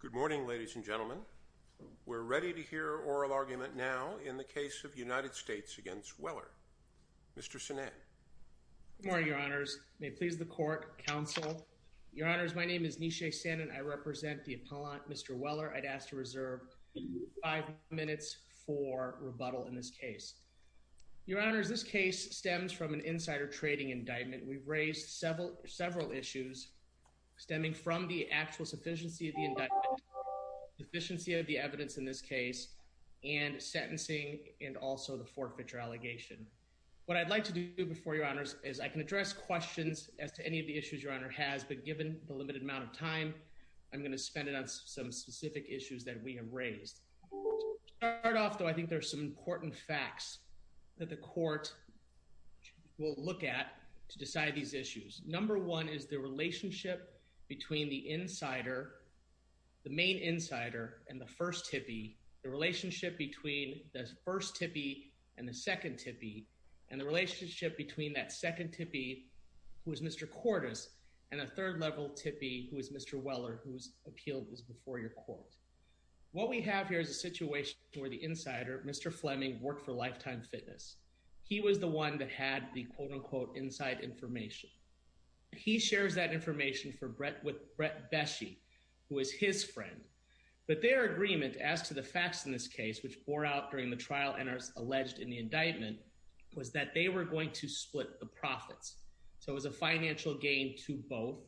Good morning, ladies and gentlemen. We're ready to hear oral argument now in the case of United States v. Weller. Mr. Sinan. Good morning, your honors. May it please the court, counsel. Your honors, my name is Nishay Sinan. I represent the appellant, Mr. Weller. I'd ask to reserve five minutes for rebuttal in this case. Your honors, this case stems from an insider trading indictment. We've raised several issues stemming from the actual sufficiency of the indictment, deficiency of the evidence in this case, and sentencing and also the forfeiture allegation. What I'd like to do before your honors is I can address questions as to any of the issues your honor has, but given the limited amount of time, I'm going to spend it on some specific issues that we have raised. To start off, though, I think there's some important facts that the court will look at to decide these issues. Number one is the relationship between the insider, the main insider, and the first tippee, the relationship between the first tippee and the second tippee, and the relationship between that second tippee, who is Mr. Cordes, and a third-level tippee, who is Mr. Weller, whose appeal is before your court. What we have here is a situation where the insider, Mr. Fleming, worked for Lifetime Fitness. He was the one that had the quote-unquote inside information. He shares that information with Brett Beshe, who is his friend, but their agreement as to the facts in this case, which bore out during the trial and are alleged in the indictment, was that they were going to split the profits. So it was a financial gain to both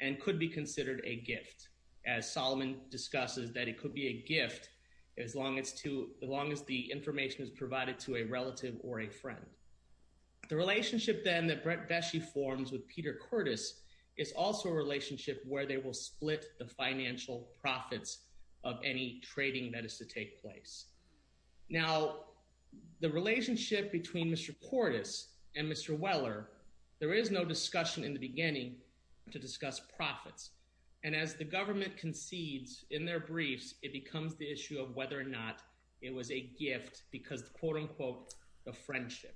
and could be considered a gift, as Solomon discusses that it could be a gift as long as the information is provided to a relative or a friend. The relationship then that Brett Beshe forms with Peter Cordes is also a relationship where they will split the financial profits of any trading that is to take place. Now, the relationship between Mr. Cordes and Mr. Weller, there is no discussion in the beginning to discuss profits. And as the government concedes in their briefs, it becomes the issue of whether or not it was a gift because of quote-unquote the friendship.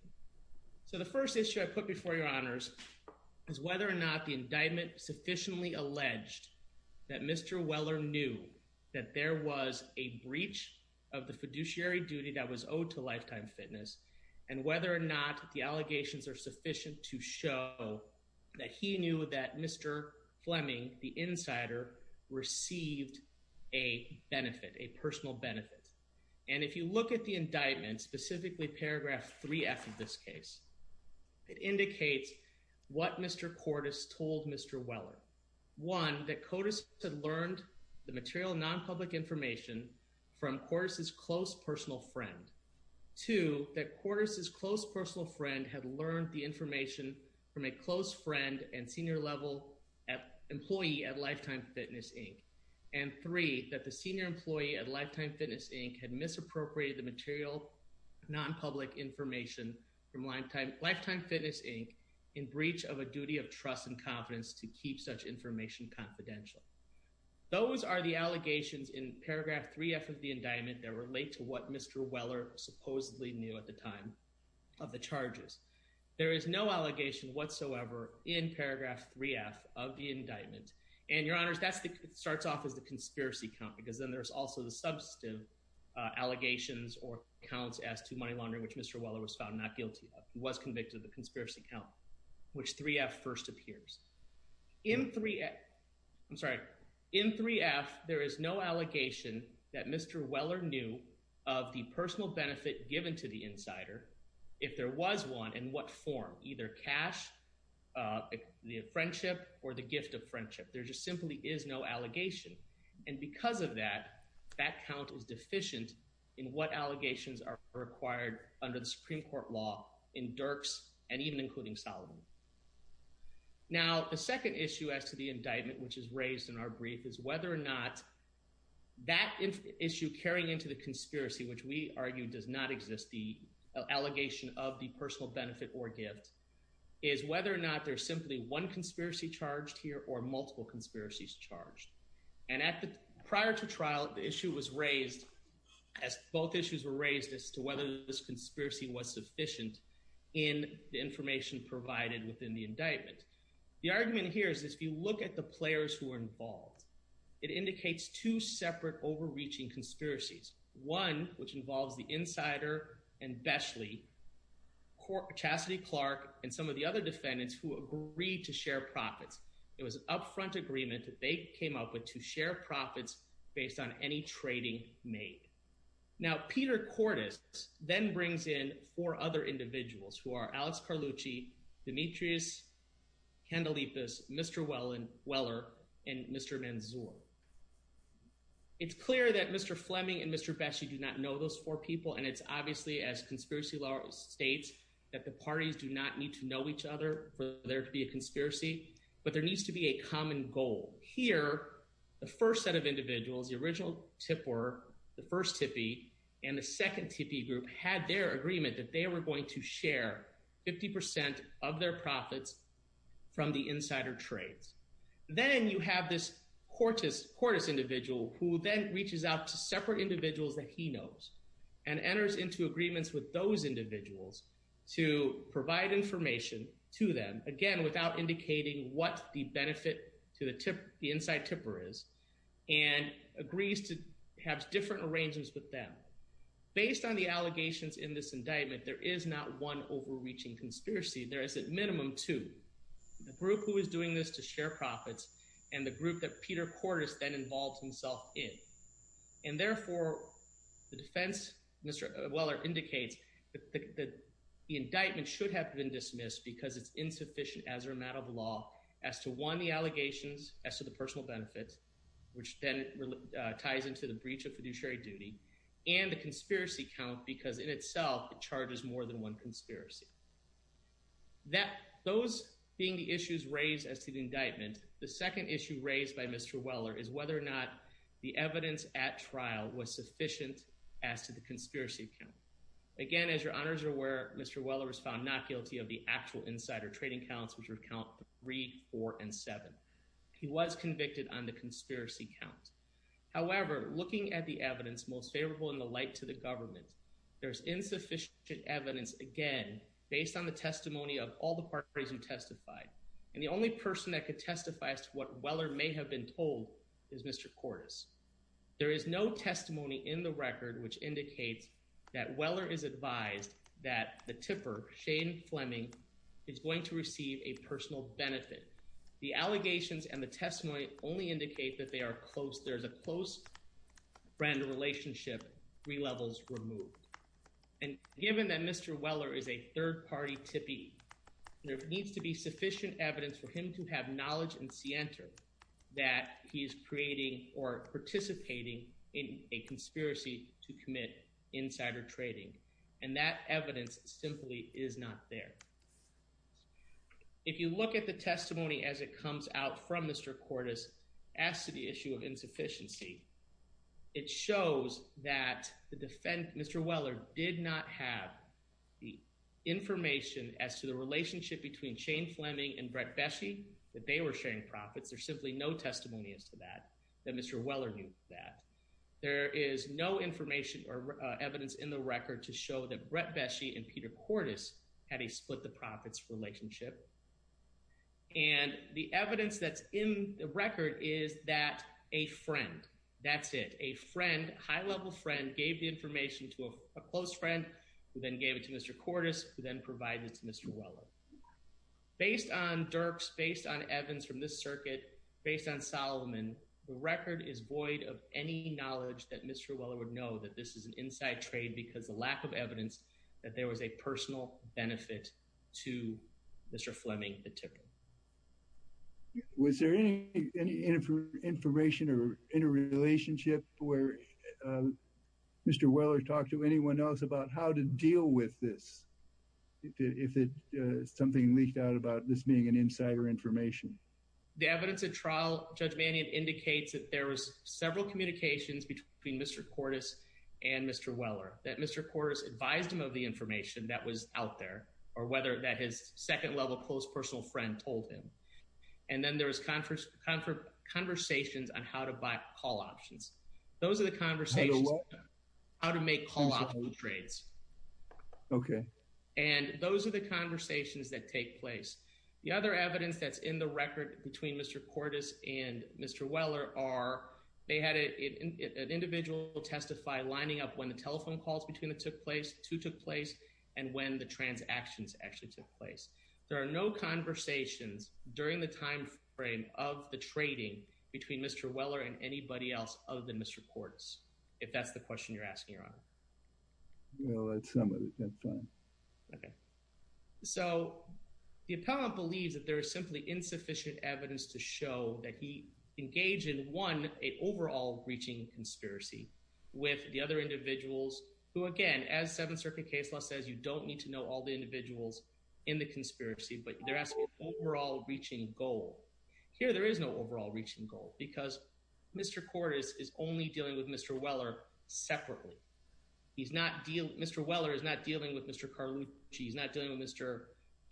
So the first issue I put before your honors is whether or not the indictment sufficiently alleged that Mr. Weller knew that there was a breach of the fiduciary duty that was owed to Lifetime Fitness and whether or not the allegations are sufficient to show that he knew that Mr. Fleming, the insider, received a benefit, a personal benefit. And if you look at the indictment, specifically Paragraph 3F of this case, it indicates what Mr. Cordes told Mr. Weller. One, that Cordes had learned the material nonpublic information from Cordes' close personal friend. Two, that Cordes' close personal friend had learned the information from a close friend and senior level employee at Lifetime Fitness, Inc. And three, that the senior employee at Lifetime Fitness, Inc. had misappropriated the material nonpublic information from Lifetime Fitness, Inc. in breach of a duty of trust and confidence to keep such information confidential. Those are the allegations in Paragraph 3F of the indictment that relate to what Mr. Weller supposedly knew at the time of the charges. There is no allegation whatsoever in Paragraph 3F of the indictment. And, Your Honors, that starts off as the conspiracy count because then there's also the substantive allegations or counts as to money laundering, which Mr. Weller was found not guilty of. He was convicted of the conspiracy count, which 3F first appears. In 3F, there is no allegation that Mr. Weller knew of the personal benefit given to the insider if there was one in what form? Either cash, the friendship, or the gift of friendship. There just simply is no allegation. And because of that, that count is deficient in what allegations are required under the Supreme Court law in Dirks and even including Solomon. Now, the second issue as to the indictment, which is raised in our brief, is whether or not that issue carrying into the conspiracy, which we argue does not exist, the allegation of the personal benefit or gift, is whether or not there's simply one conspiracy charged here or multiple conspiracies charged. And prior to trial, the issue was raised as both issues were raised as to whether this conspiracy was sufficient in the information provided within the indictment. The argument here is if you look at the players who were involved, it indicates two separate overreaching conspiracies. One, which involves the insider and Beshley, Chastity Clark, and some of the other defendants who agreed to share profits. It was an upfront agreement that they came up with to share profits based on any trading made. Now, Peter Cordes then brings in four other individuals who are Alex Carlucci, Demetrius, Candelitas, Mr. Weller, and Mr. Manzur. It's clear that Mr. Fleming and Mr. Beshley do not know those four people, and it's obviously, as conspiracy law states, that the parties do not need to know each other for there to be a conspiracy. But there needs to be a common goal. Here, the first set of individuals, the original tipper, the first tippy, and the second tippy group had their agreement that they were going to share 50 percent of their profits from the insider trades. Then you have this Cordes individual who then reaches out to separate individuals that he knows and enters into agreements with those individuals to provide information to them, again, without indicating what the benefit to the inside tipper is, and agrees to have different arrangements with them. Based on the allegations in this indictment, there is not one overreaching conspiracy. There is at minimum two, the group who is doing this to share profits and the group that Peter Cordes then involves himself in. And therefore, the defense, Mr. Weller indicates, the indictment should have been dismissed because it's insufficient as a matter of law as to, one, the allegations as to the personal benefits, which then ties into the breach of fiduciary duty, and the conspiracy count because in itself, it charges more than one conspiracy. Those being the issues raised as to the indictment, the second issue raised by Mr. Weller is whether or not the evidence at trial was sufficient as to the conspiracy count. Again, as your honors are aware, Mr. Weller was found not guilty of the actual insider trading counts, which are count three, four, and seven. He was convicted on the conspiracy count. However, looking at the evidence most favorable in the light to the government, there's insufficient evidence, again, based on the testimony of all the parties who testified. And the only person that could testify as to what Weller may have been told is Mr. Cordes. There is no testimony in the record which indicates that Weller is advised that the tipper, Shane Fleming, is going to receive a personal benefit. The allegations and the testimony only indicate that they are close. There's a close friend relationship, three levels removed. And given that Mr. Weller is a third-party tippy, there needs to be sufficient evidence for him to have knowledge and scienter that he is creating or participating in a conspiracy to commit insider trading. And that evidence simply is not there. If you look at the testimony as it comes out from Mr. Cordes as to the issue of insufficiency, it shows that the defendant, Mr. Weller, did not have the information as to the relationship between Shane Fleming and Brett Beshey, that they were sharing profits. There's simply no testimony as to that, that Mr. Weller knew that. There is no information or evidence in the record to show that Brett Beshey and Peter Cordes had a split-the-profits relationship. And the evidence that's in the record is that a friend, that's it, a friend, high-level friend, gave the information to a close friend, who then gave it to Mr. Cordes, who then provided it to Mr. Weller. Based on Dirks, based on Evans from this circuit, based on Solomon, the record is void of any knowledge that Mr. Weller would know that this is an inside trade because of lack of evidence that there was a personal benefit to Mr. Fleming, the tippy. Was there any information or interrelationship where Mr. Weller talked to anyone else about how to deal with this, if something leaked out about this being an insider information? The evidence at trial, Judge Mannion, indicates that there was several communications between Mr. Cordes and Mr. Weller, that Mr. Cordes advised him of the information that was out there, or whether that his second-level close personal friend told him. And then there was conversations on how to buy call options. Those are the conversations on how to make call options trades. Okay. And those are the conversations that take place. The other evidence that's in the record between Mr. Cordes and Mr. Weller are, they had an individual testify lining up when the telephone calls between the two took place, and when the transactions actually took place. There are no conversations during the timeframe of the trading between Mr. Weller and anybody else other than Mr. Cordes, if that's the question you're asking, Your Honor. Well, that's something we can find. Okay. So, the appellant believes that there is simply insufficient evidence to show that he engaged in, one, an overall breaching conspiracy with the other individuals who, again, as Seventh Circuit case law says, you don't need to know all the individuals in the conspiracy, but they're asking an overall breaching goal. Here, there is no overall breaching goal, because Mr. Cordes is only dealing with Mr. Weller separately. Mr. Weller is not dealing with Mr. Carlucci. He's not dealing with Mr.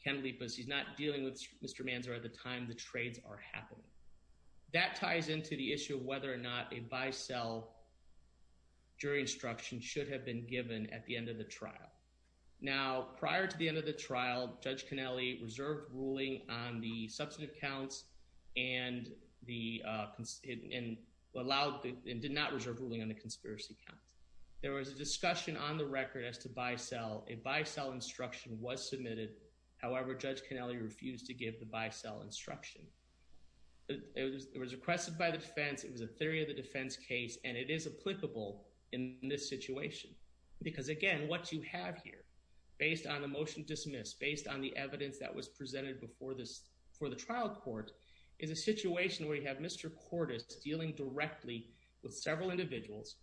Kenlepas. He's not dealing with Mr. Manzer at the time the trades are happening. That ties into the issue of whether or not a buy-sell jury instruction should have been given at the end of the trial. Now, prior to the end of the trial, Judge Kennelly reserved ruling on the substantive counts and did not reserve ruling on the conspiracy counts. There was a discussion on the record as to buy-sell. A buy-sell instruction was submitted. However, Judge Kennelly refused to give the buy-sell instruction. It was requested by the defense. It was a theory of the defense case, and it is applicable in this situation. Because, again, what you have here, based on the motion dismissed, based on the evidence that was presented before the trial court, is a situation where you have Mr. Cordes dealing directly with several individuals.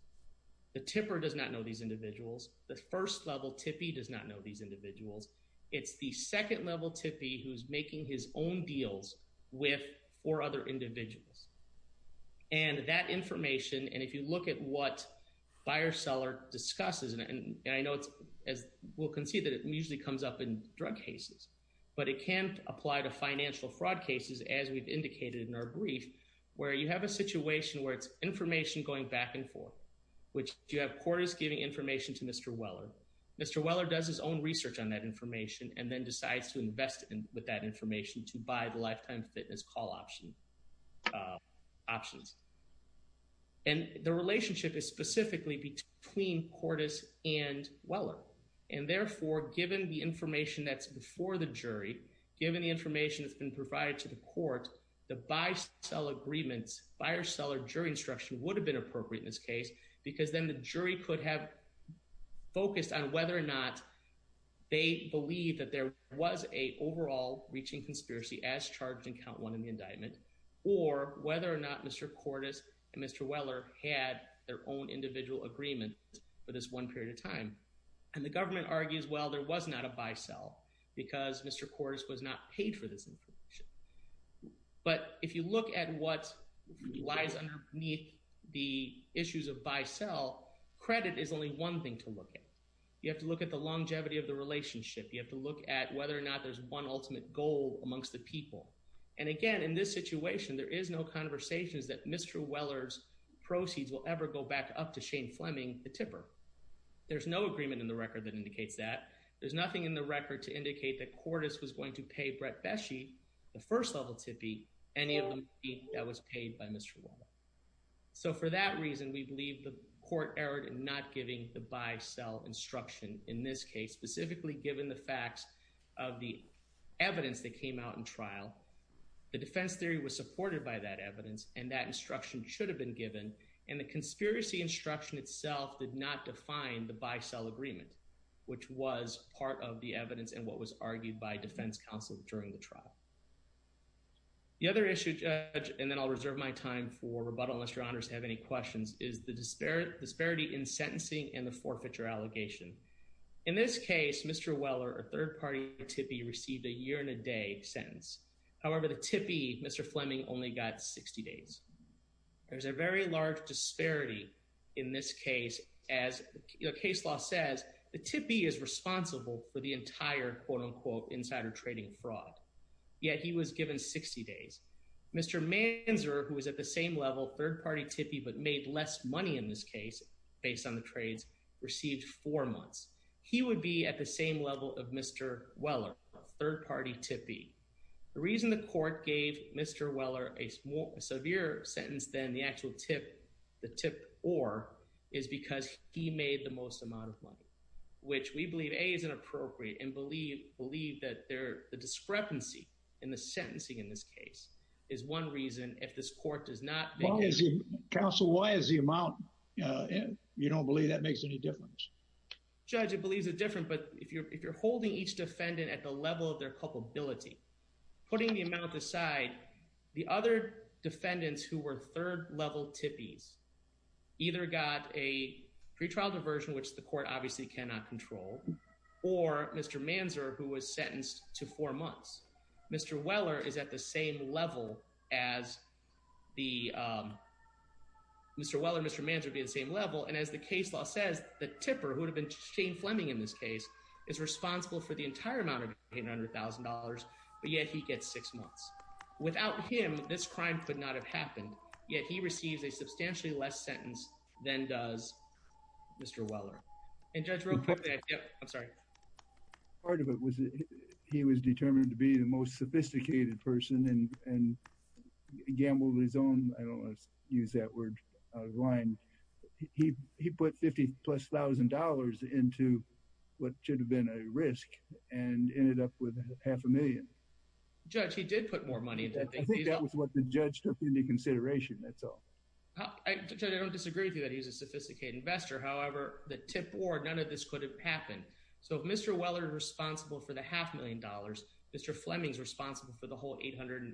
The tipper does not know these individuals. The first-level tippy does not know these individuals. It's the second-level tippy who's making his own deals with four other individuals. And that information, and if you look at what buyer-seller discusses, and I know, as we'll concede, that it usually comes up in drug cases. But it can apply to financial fraud cases, as we've indicated in our brief, where you have a situation where it's information going back and forth, which you have Cordes giving information to Mr. Weller. Mr. Weller does his own research on that information and then decides to invest with that information to buy the lifetime fitness call options. And the relationship is specifically between Cordes and Weller. And, therefore, given the information that's before the jury, given the information that's been provided to the court, the buyer-seller jury instruction would have been appropriate in this case because then the jury could have focused on whether or not they believe that there was an overall reaching conspiracy as charged in Count 1 in the indictment, or whether or not Mr. Cordes and Mr. Weller had their own individual agreement for this one period of time. And the government argues, well, there was not a buy-sell because Mr. Cordes was not paid for this information. But if you look at what lies underneath the issues of buy-sell, credit is only one thing to look at. You have to look at the longevity of the relationship. You have to look at whether or not there's one ultimate goal amongst the people. And, again, in this situation, there is no conversation that Mr. Weller's proceeds will ever go back up to Shane Fleming, the tipper. There's no agreement in the record that indicates that. There's nothing in the record to indicate that Cordes was going to pay Brett Beshe, the first-level tippee, any of the money that was paid by Mr. Weller. So for that reason, we believe the court erred in not giving the buy-sell instruction in this case, specifically given the facts of the evidence that came out in trial. The defense theory was supported by that evidence, and that instruction should have been given. And the conspiracy instruction itself did not define the buy-sell agreement, which was part of the evidence and what was argued by defense counsel during the trial. The other issue, Judge, and then I'll reserve my time for rebuttal unless your honors have any questions, is the disparity in sentencing and the forfeiture allegation. In this case, Mr. Weller, a third-party tippee, received a year-and-a-day sentence. However, the tippee, Mr. Fleming, only got 60 days. There's a very large disparity in this case. As the case law says, the tippee is responsible for the entire, quote-unquote, insider trading fraud. Yet he was given 60 days. Mr. Manzer, who was at the same level, third-party tippee, but made less money in this case based on the trades, received four months. He would be at the same level of Mr. Weller, a third-party tippee. The reason the court gave Mr. Weller a severe sentence than the actual tip, the tip or, is because he made the most amount of money, which we believe, A, is inappropriate, and believe that the discrepancy in the sentencing in this case is one reason if this court does not make it- Counsel, why is the amount, you don't believe that makes any difference? Judge, it believes it's different, but if you're holding each defendant at the level of their culpability, putting the amount aside, the other defendants who were third-level tippees either got a pretrial diversion, which the court obviously cannot control, or Mr. Manzer, who was sentenced to four months. Mr. Weller is at the same level as the- Mr. Weller and Mr. Manzer would be at the same level, and as the case law says, the tipper, who would have been Shane Fleming in this case, is responsible for the entire amount of $800,000, but yet he gets six months. Without him, this crime could not have happened, yet he receives a substantially less sentence than does Mr. Weller. And Judge, real quickly, I'm sorry. Part of it was that he was determined to be the most sophisticated person and gambled his own, I don't want to use that word out of line, he put $50,000 plus into what should have been a risk and ended up with half a million. Judge, he did put more money into it. I think that was what the judge took into consideration, that's all. Judge, I don't disagree with you that he was a sophisticated investor, however, the tip board, none of this could have happened. So if Mr. Weller is responsible for the half million dollars, Mr. Fleming is responsible for the whole $886,000.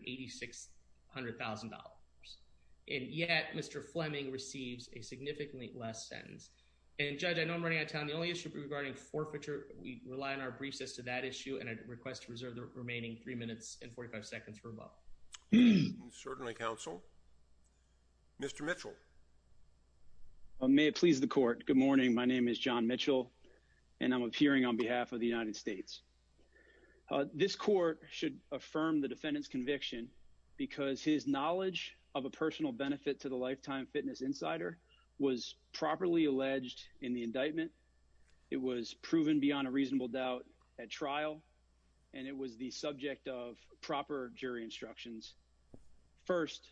And yet, Mr. Fleming receives a significantly less sentence. And Judge, I know I'm running out of time, the only issue regarding forfeiture, we rely on our briefs as to that issue, and I request to reserve the remaining three minutes and 45 seconds for a vote. Certainly, Counsel. Mr. Mitchell. May it please the court, good morning, my name is John Mitchell, and I'm appearing on behalf of the United States. This court should affirm the defendant's conviction because his knowledge of a personal benefit to the Lifetime Fitness Insider was properly alleged in the indictment. It was proven beyond a reasonable doubt at trial, and it was the subject of proper jury instructions. First,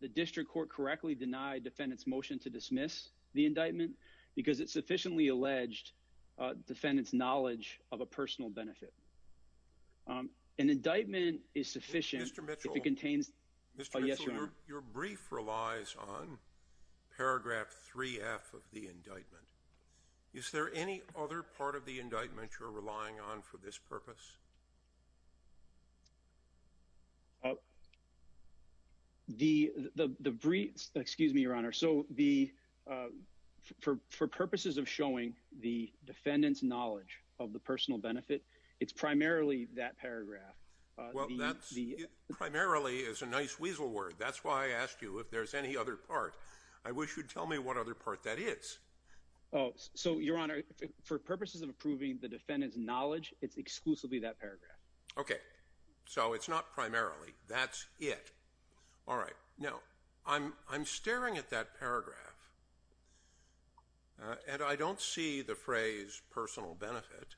the district court correctly denied defendants motion to dismiss the indictment because it sufficiently alleged defendants knowledge of a personal benefit. An indictment is sufficient. Mr. Mitchell, your brief relies on paragraph 3 F of the indictment. Is there any other part of the indictment you're relying on for this purpose? The briefs, excuse me, Your Honor, so the for purposes of showing the defendants knowledge of the personal benefit, it's primarily that paragraph. Well, that's primarily is a nice weasel word. That's why I asked you if there's any other part. I wish you'd tell me what other part that is. Oh, so, Your Honor, for purposes of approving the defendant's knowledge, it's exclusively that paragraph. OK, so it's not primarily. That's it. All right. No, I'm I'm staring at that paragraph and I don't see the phrase personal benefit.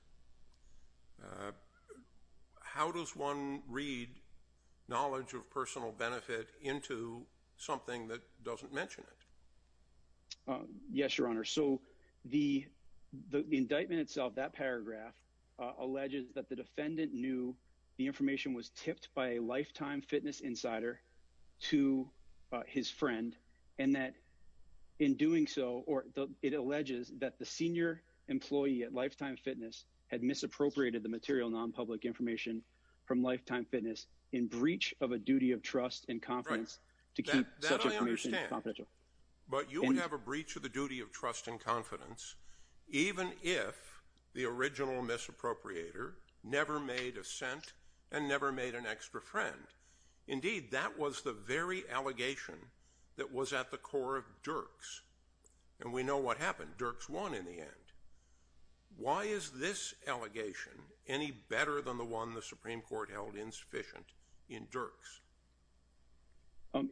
How does one read knowledge of personal benefit into something that doesn't mention it? Yes, Your Honor. So the the indictment itself, that paragraph alleges that the defendant knew the information was tipped by a lifetime fitness insider to his friend and that in doing so, or it alleges that the senior employee at Lifetime Fitness had misappropriated the material nonpublic information from Lifetime Fitness in breach of a duty of trust and confidence to keep confidential. But you would have a breach of the duty of trust and confidence, even if the original misappropriator never made a cent and never made an extra friend. Indeed, that was the very allegation that was at the core of Dirks. And we know what happened. Dirks won in the end. Why is this allegation any better than the one the Supreme Court held insufficient in Dirks?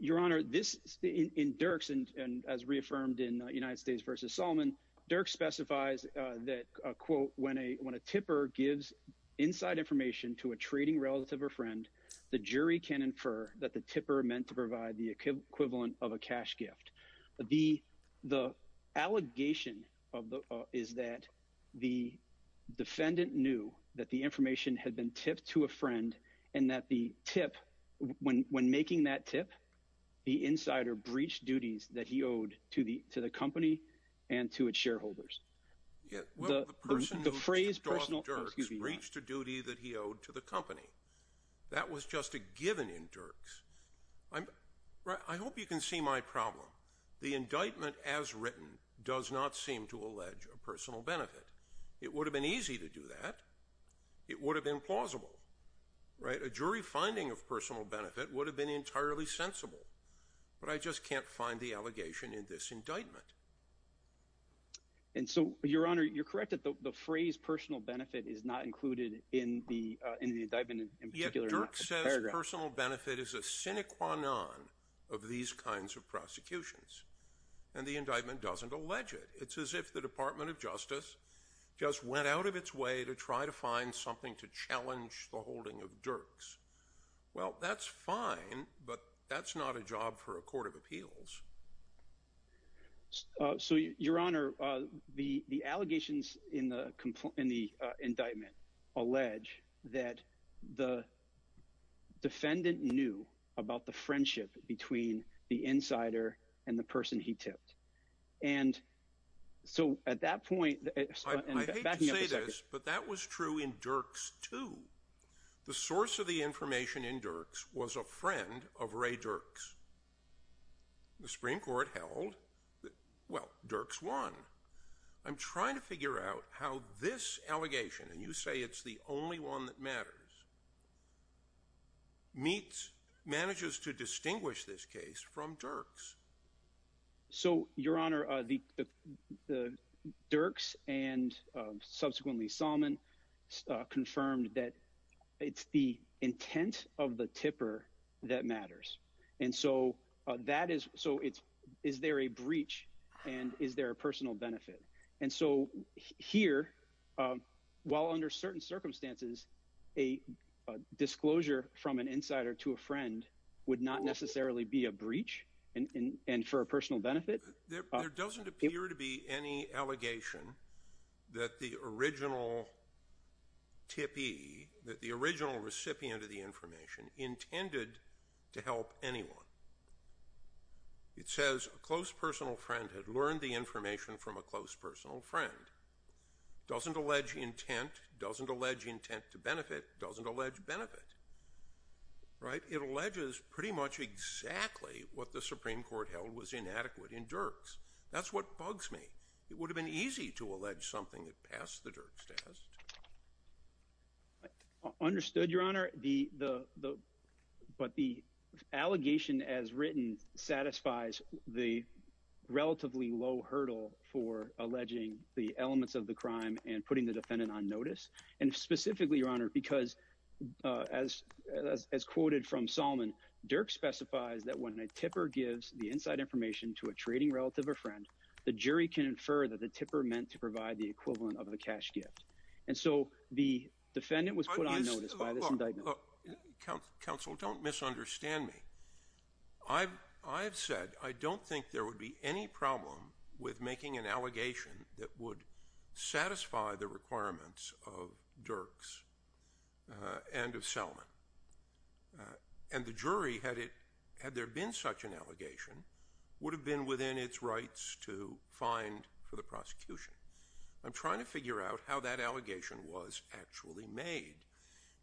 Your Honor, this in Dirks and as reaffirmed in United States versus Solomon, Dirks specifies that, quote, when a when a tipper gives inside information to a trading relative or friend, the jury can infer that the tipper meant to provide the equivalent of a cash gift. The the allegation is that the defendant knew that the information had been tipped to a friend and that the tip when when making that tip, the insider breached duties that he owed to the to the company and to its shareholders. The phrase personal reached a duty that he owed to the company. That was just a given in Dirks. I'm right. I hope you can see my problem. The indictment, as written, does not seem to allege a personal benefit. It would have been easy to do that. It would have been plausible. Right. A jury finding of personal benefit would have been entirely sensible. But I just can't find the allegation in this indictment. And so, Your Honor, you're correct that the phrase personal benefit is not included in the indictment in particular. Dirks says personal benefit is a sine qua non of these kinds of prosecutions and the indictment doesn't allege it. It's as if the Department of Justice just went out of its way to try to find something to challenge the holding of Dirks. Well, that's fine, but that's not a job for a court of appeals. So, Your Honor, the allegations in the in the indictment allege that the defendant knew about the friendship between the insider and the person he tipped. And so at that point, I hate to say this, but that was true in Dirks, too. The source of the information in Dirks was a friend of Ray Dirks. The Supreme Court held that, well, Dirks won. I'm trying to figure out how this allegation and you say it's the only one that matters. Meats manages to distinguish this case from Dirks. So, Your Honor, the Dirks and subsequently Solomon confirmed that it's the intent of the tipper that matters. And so that is so it's is there a breach and is there a personal benefit? And so here, while under certain circumstances, a disclosure from an insider to a friend would not necessarily be a breach. And for a personal benefit, there doesn't appear to be any allegation that the original tippy, that the original recipient of the information intended to help anyone. It says a close personal friend had learned the information from a close personal friend, doesn't allege intent, doesn't allege intent to benefit, doesn't allege benefit. Right. It alleges pretty much exactly what the Supreme Court held was inadequate in Dirks. That's what bugs me. It would have been easy to allege something that passed the Dirks test. Understood, Your Honor. The the but the allegation as written satisfies the relatively low hurdle for alleging the elements of the crime and putting the defendant on notice. And specifically, Your Honor, because as as quoted from Solomon, Dirks specifies that when a tipper gives the inside information to a trading relative or friend, the jury can infer that the tipper meant to provide the equivalent of the cash gift. And so the defendant was put on notice by this indictment. Counsel, don't misunderstand me. I've I've said I don't think there would be any problem with making an allegation that would satisfy the requirements of Dirks and of Solomon. And the jury had it had there been such an allegation would have been within its rights to find for the prosecution. I'm trying to figure out how that allegation was actually made.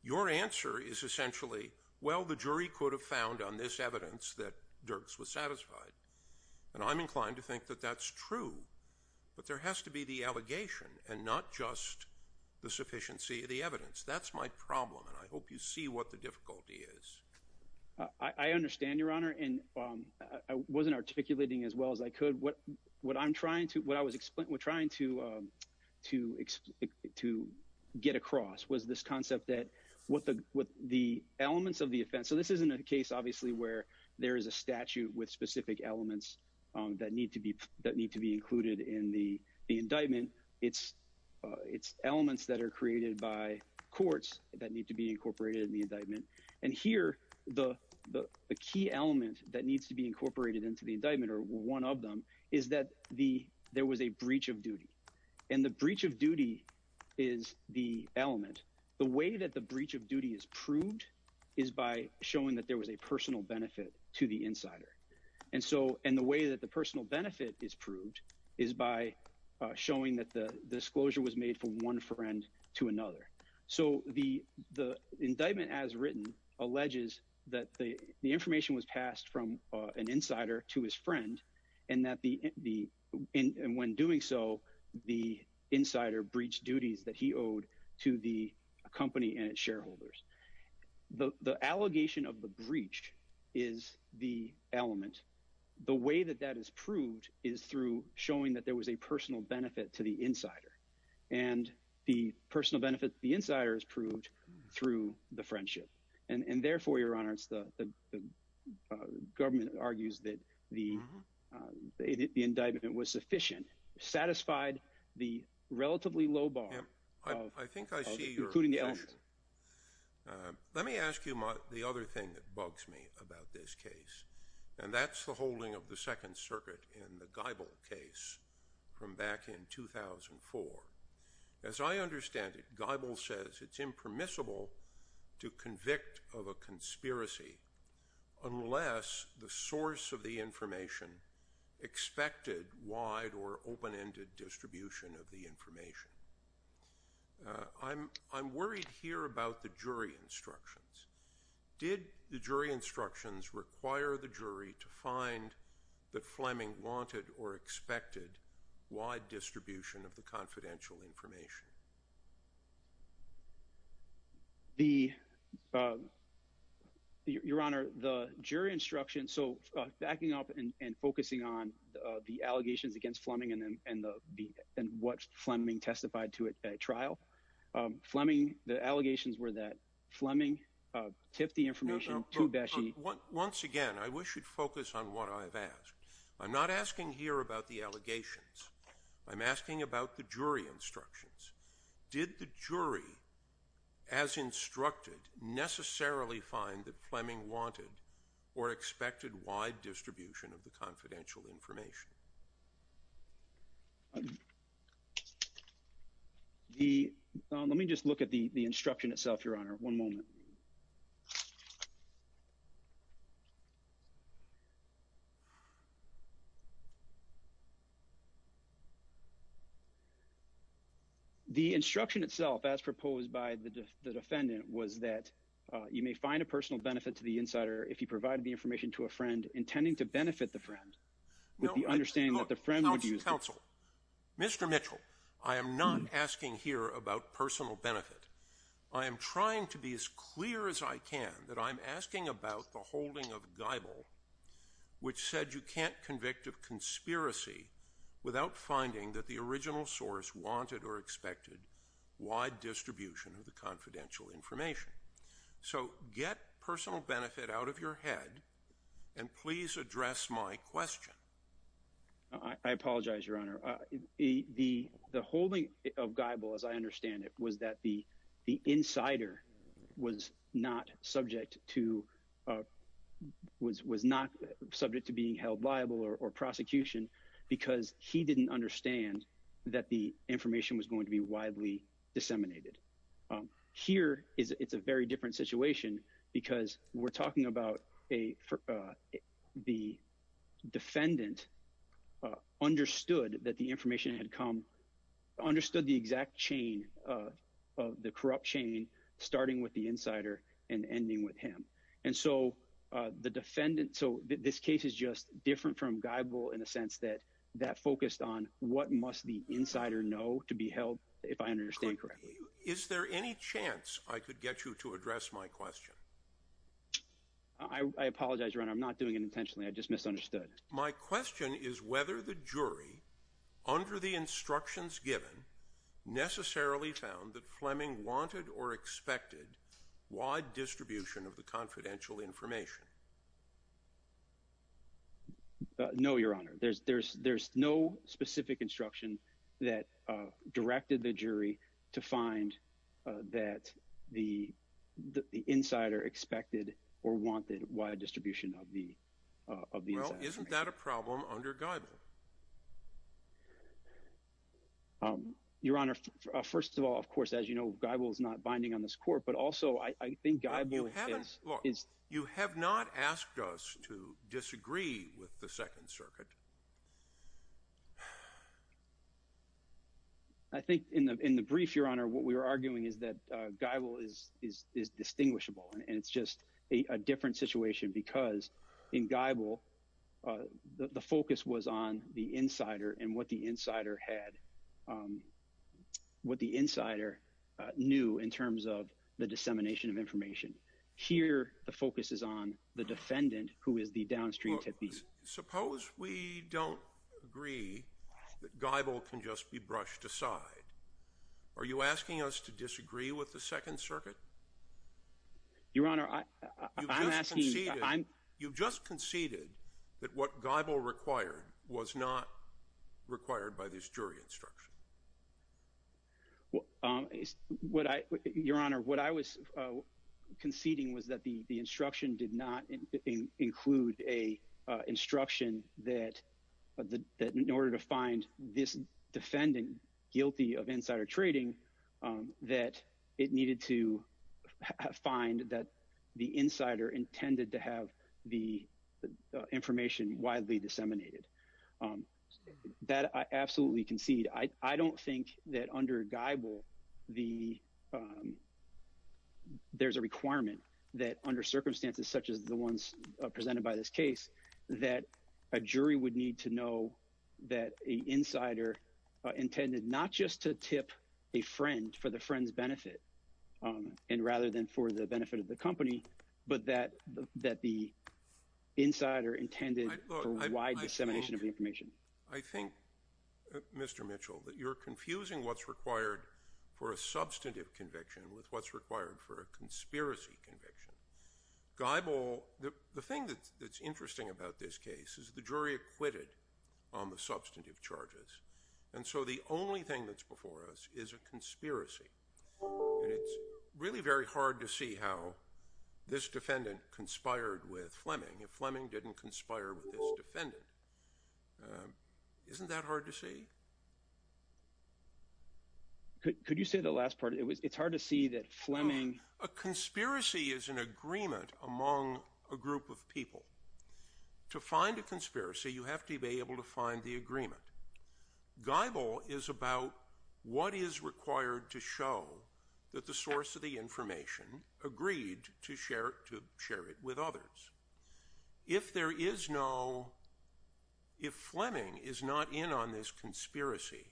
Your answer is essentially, well, the jury could have found on this evidence that Dirks was satisfied. And I'm inclined to think that that's true. But there has to be the allegation and not just the sufficiency of the evidence. That's my problem. And I hope you see what the difficulty is. I understand, Your Honor. And I wasn't articulating as well as I could. What what I'm trying to what I was trying to to to get across was this concept that what the what the elements of the offense. So this isn't a case, obviously, where there is a statute with specific elements that need to be that need to be included in the indictment. It's elements that are created by courts that need to be incorporated in the indictment. And here the the key element that needs to be incorporated into the indictment or one of them is that the there was a breach of duty and the breach of duty is the element. And the way that the breach of duty is proved is by showing that there was a personal benefit to the insider. And so and the way that the personal benefit is proved is by showing that the disclosure was made from one friend to another. So the the indictment as written alleges that the information was passed from an insider to his friend and that the the and when doing so, the insider breached duties that he owed to the company and its shareholders. The allegation of the breach is the element. And the way that that is proved is through showing that there was a personal benefit to the insider and the personal benefit the insiders proved through the friendship. And therefore, your honor, it's the government argues that the the indictment was sufficient, satisfied the relatively low bar. Let me ask you the other thing that bugs me about this case. And that's the holding of the Second Circuit in the Geibel case from back in 2004. As I understand it, Geibel says it's impermissible to convict of a conspiracy unless the source of the information expected wide or open ended distribution of the information. I'm I'm worried here about the jury instructions. Did the jury instructions require the jury to find that Fleming wanted or expected wide distribution of the confidential information? The your honor, the jury instruction. So backing up and focusing on the allegations against Fleming and what Fleming testified to a trial Fleming, the allegations were that Fleming tipped the information to Bashi. Once again, I wish you'd focus on what I've asked. I'm not asking here about the allegations. I'm asking about the jury instructions. Did the jury, as instructed, necessarily find that Fleming wanted or expected wide distribution of the confidential information? The let me just look at the instruction itself, your honor. One moment. The instruction itself, as proposed by the defendant, was that you may find a personal benefit to the insider if you provide the information to a friend intending to benefit the friend. I'm trying to be as clear as I can that I'm asking about the holding of Gable, which said you can't convict of conspiracy without finding that the original source wanted or expected wide distribution of the confidential information. So get personal benefit out of your head and please address my question. I apologize, your honor. The the holding of Gable, as I understand it, was that the the insider was not subject to was was not subject to being held liable or prosecution because he didn't understand that the information was going to be widely disseminated. Here is it's a very different situation because we're talking about a the defendant understood that the information had come understood the exact chain of the corrupt chain, starting with the insider and ending with him. And so the defendant. So this case is just different from Gable in a sense that that focused on what must the insider know to be held, if I understand correctly. Is there any chance I could get you to address my question? I apologize, your honor. I'm not doing it intentionally. I just misunderstood. My question is whether the jury under the instructions given necessarily found that Fleming wanted or expected wide distribution of the confidential information. No, your honor. There's there's there's no specific instruction that directed the jury to find that the the insider expected or wanted wide distribution of the of the. Well, isn't that a problem under Gable? Your honor, first of all, of course, as you know, Gable is not binding on this court, but also I think Gable is. You have not asked us to disagree with the Second Circuit. I think in the in the brief, your honor, what we were arguing is that Gable is is is distinguishable and it's just a different situation because in Gable, the focus was on the insider and what the insider had, what the insider knew in terms of the dissemination of information. Here, the focus is on the defendant who is the downstream. Suppose we don't agree that Gable can just be brushed aside. Are you asking us to disagree with the Second Circuit? Your honor, I'm asking. I'm you've just conceded that what Gable required was not required by this jury instruction. Well, what I your honor, what I was conceding was that the instruction did not include a instruction that that in order to find this defendant guilty of insider trading, that it needed to find that the insider intended to have the information widely disseminated that I absolutely concede. I don't think that under Gable, the there's a requirement that under circumstances such as the ones presented by this case, that a jury would need to know that a insider intended not just to tip a friend for the friend's benefit and rather than for the benefit of the company, but that that the insider intended. I think, Mr. Mitchell, that you're confusing what's required for a substantive conviction with what's required for a conspiracy conviction. Gable, the thing that's interesting about this case is the jury acquitted on the substantive charges. And so the only thing that's before us is a conspiracy. It's really very hard to see how this defendant conspired with Fleming if Fleming didn't conspire with this defendant. Isn't that hard to see? Could you say the last part? It's hard to see that Fleming. A conspiracy is an agreement among a group of people. To find a conspiracy, you have to be able to find the agreement. Gable is about what is required to show that the source of the information agreed to share it with others. If there is no – if Fleming is not in on this conspiracy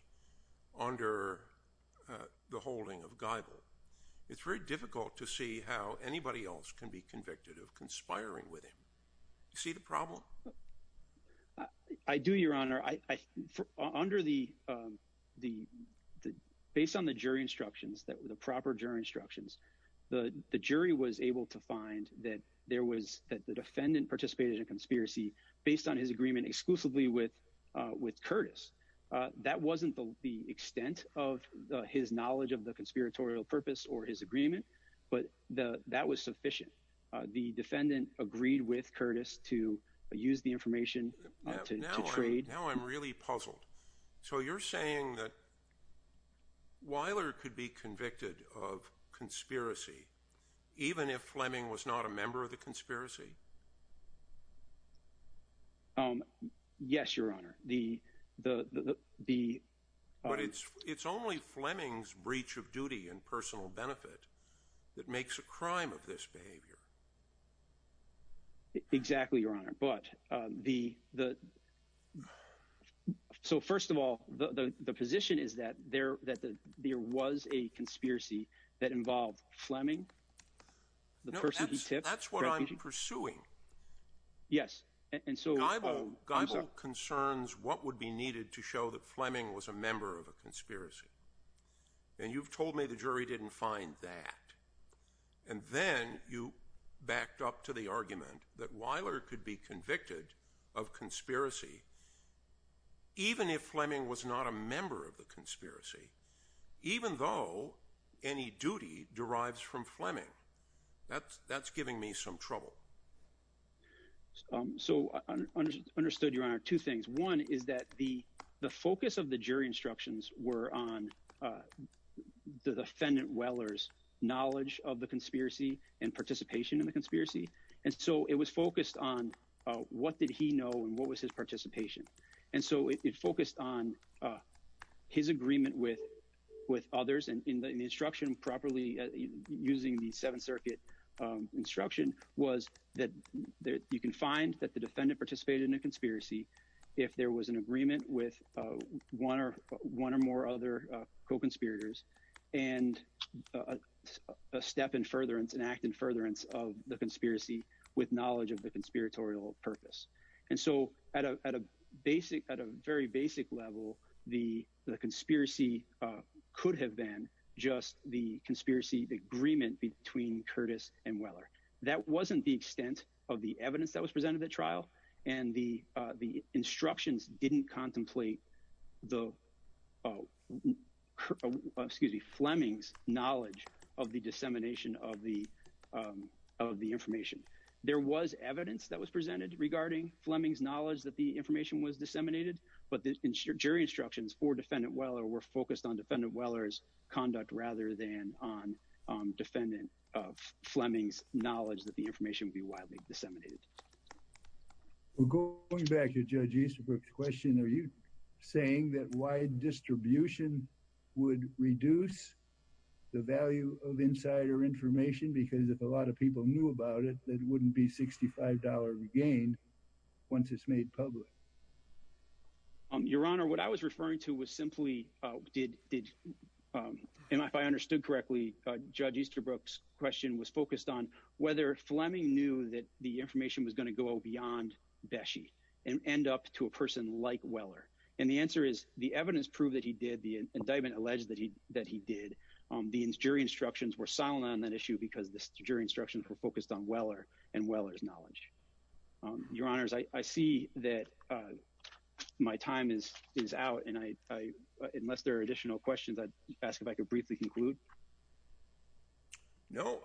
under the holding of Gable, it's very difficult to see how anybody else can be convicted of conspiring with him. Do you see the problem? I do, Your Honor. Under the – based on the jury instructions, the proper jury instructions, the jury was able to find that there was – that the defendant participated in a conspiracy based on his agreement exclusively with Curtis. That wasn't the extent of his knowledge of the conspiratorial purpose or his agreement, but that was sufficient. The defendant agreed with Curtis to use the information to trade. Now I'm really puzzled. So you're saying that Weiler could be convicted of conspiracy even if Fleming was not a member of the conspiracy? Yes, Your Honor. But it's only Fleming's breach of duty and personal benefit that makes a crime of this behavior. Exactly, Your Honor, but the – so first of all, the position is that there was a conspiracy that involved Fleming, the person he tips. No, that's what I'm pursuing. Yes, and so – Geibel concerns what would be needed to show that Fleming was a member of a conspiracy, and you've told me the jury didn't find that, and then you backed up to the argument that Weiler could be convicted of conspiracy even if Fleming was not a member of the conspiracy, even though any duty derives from Fleming. That's giving me some trouble. So I understood, Your Honor, two things. One is that the focus of the jury instructions were on the defendant Weiler's knowledge of the conspiracy and participation in the conspiracy, and so it was focused on what did he know and what was his participation, and so it focused on his agreement with others, and the instruction properly, using the Seventh Circuit instruction, was that you can find that the defendant participated in a conspiracy if there was an agreement with one or more other co-conspirators and a step in furtherance, an act in furtherance of the conspiracy with knowledge of the conspiratorial purpose. And so at a very basic level, the conspiracy could have been just the conspiracy agreement between Curtis and Weiler. That wasn't the extent of the evidence that was presented at trial, and the instructions didn't contemplate Fleming's knowledge of the dissemination of the information. There was evidence that was presented regarding Fleming's knowledge that the information was disseminated, but the jury instructions for defendant Weiler were focused on defendant Weiler's conduct rather than on defendant Fleming's knowledge that the information would be widely disseminated. Going back to Judge Easterbrook's question, are you saying that wide distribution would reduce the value of insider information? Because if a lot of people knew about it, it wouldn't be $65 regained once it's made public. Your Honor, what I was referring to was simply did, and if I understood correctly, Judge Easterbrook's question was focused on whether Fleming knew that the information was going to go beyond Beshe and end up to a person like Weiler. And the answer is the evidence proved that he did, the indictment alleged that he did, the jury instructions were silent on that issue because the jury instructions were focused on Weiler and Weiler's knowledge. Your Honors, I see that my time is out, and unless there are additional questions, I'd ask if I could briefly conclude. No,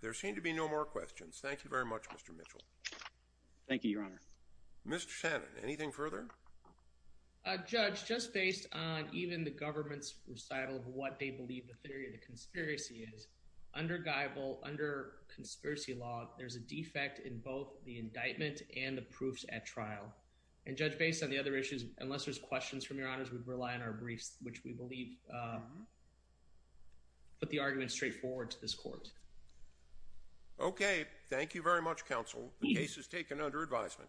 there seem to be no more questions. Thank you very much, Mr. Mitchell. Thank you, Your Honor. Mr. Shannon, anything further? Judge, just based on even the government's recital of what they believe the theory of the conspiracy is, under Geibel, under conspiracy law, there's a defect in both the indictment and the proofs at trial. And Judge, based on the other issues, unless there's questions from Your Honors, we'd rely on our briefs, which we believe put the argument straightforward to this court. Okay, thank you very much, Counsel. The case is taken under advisement.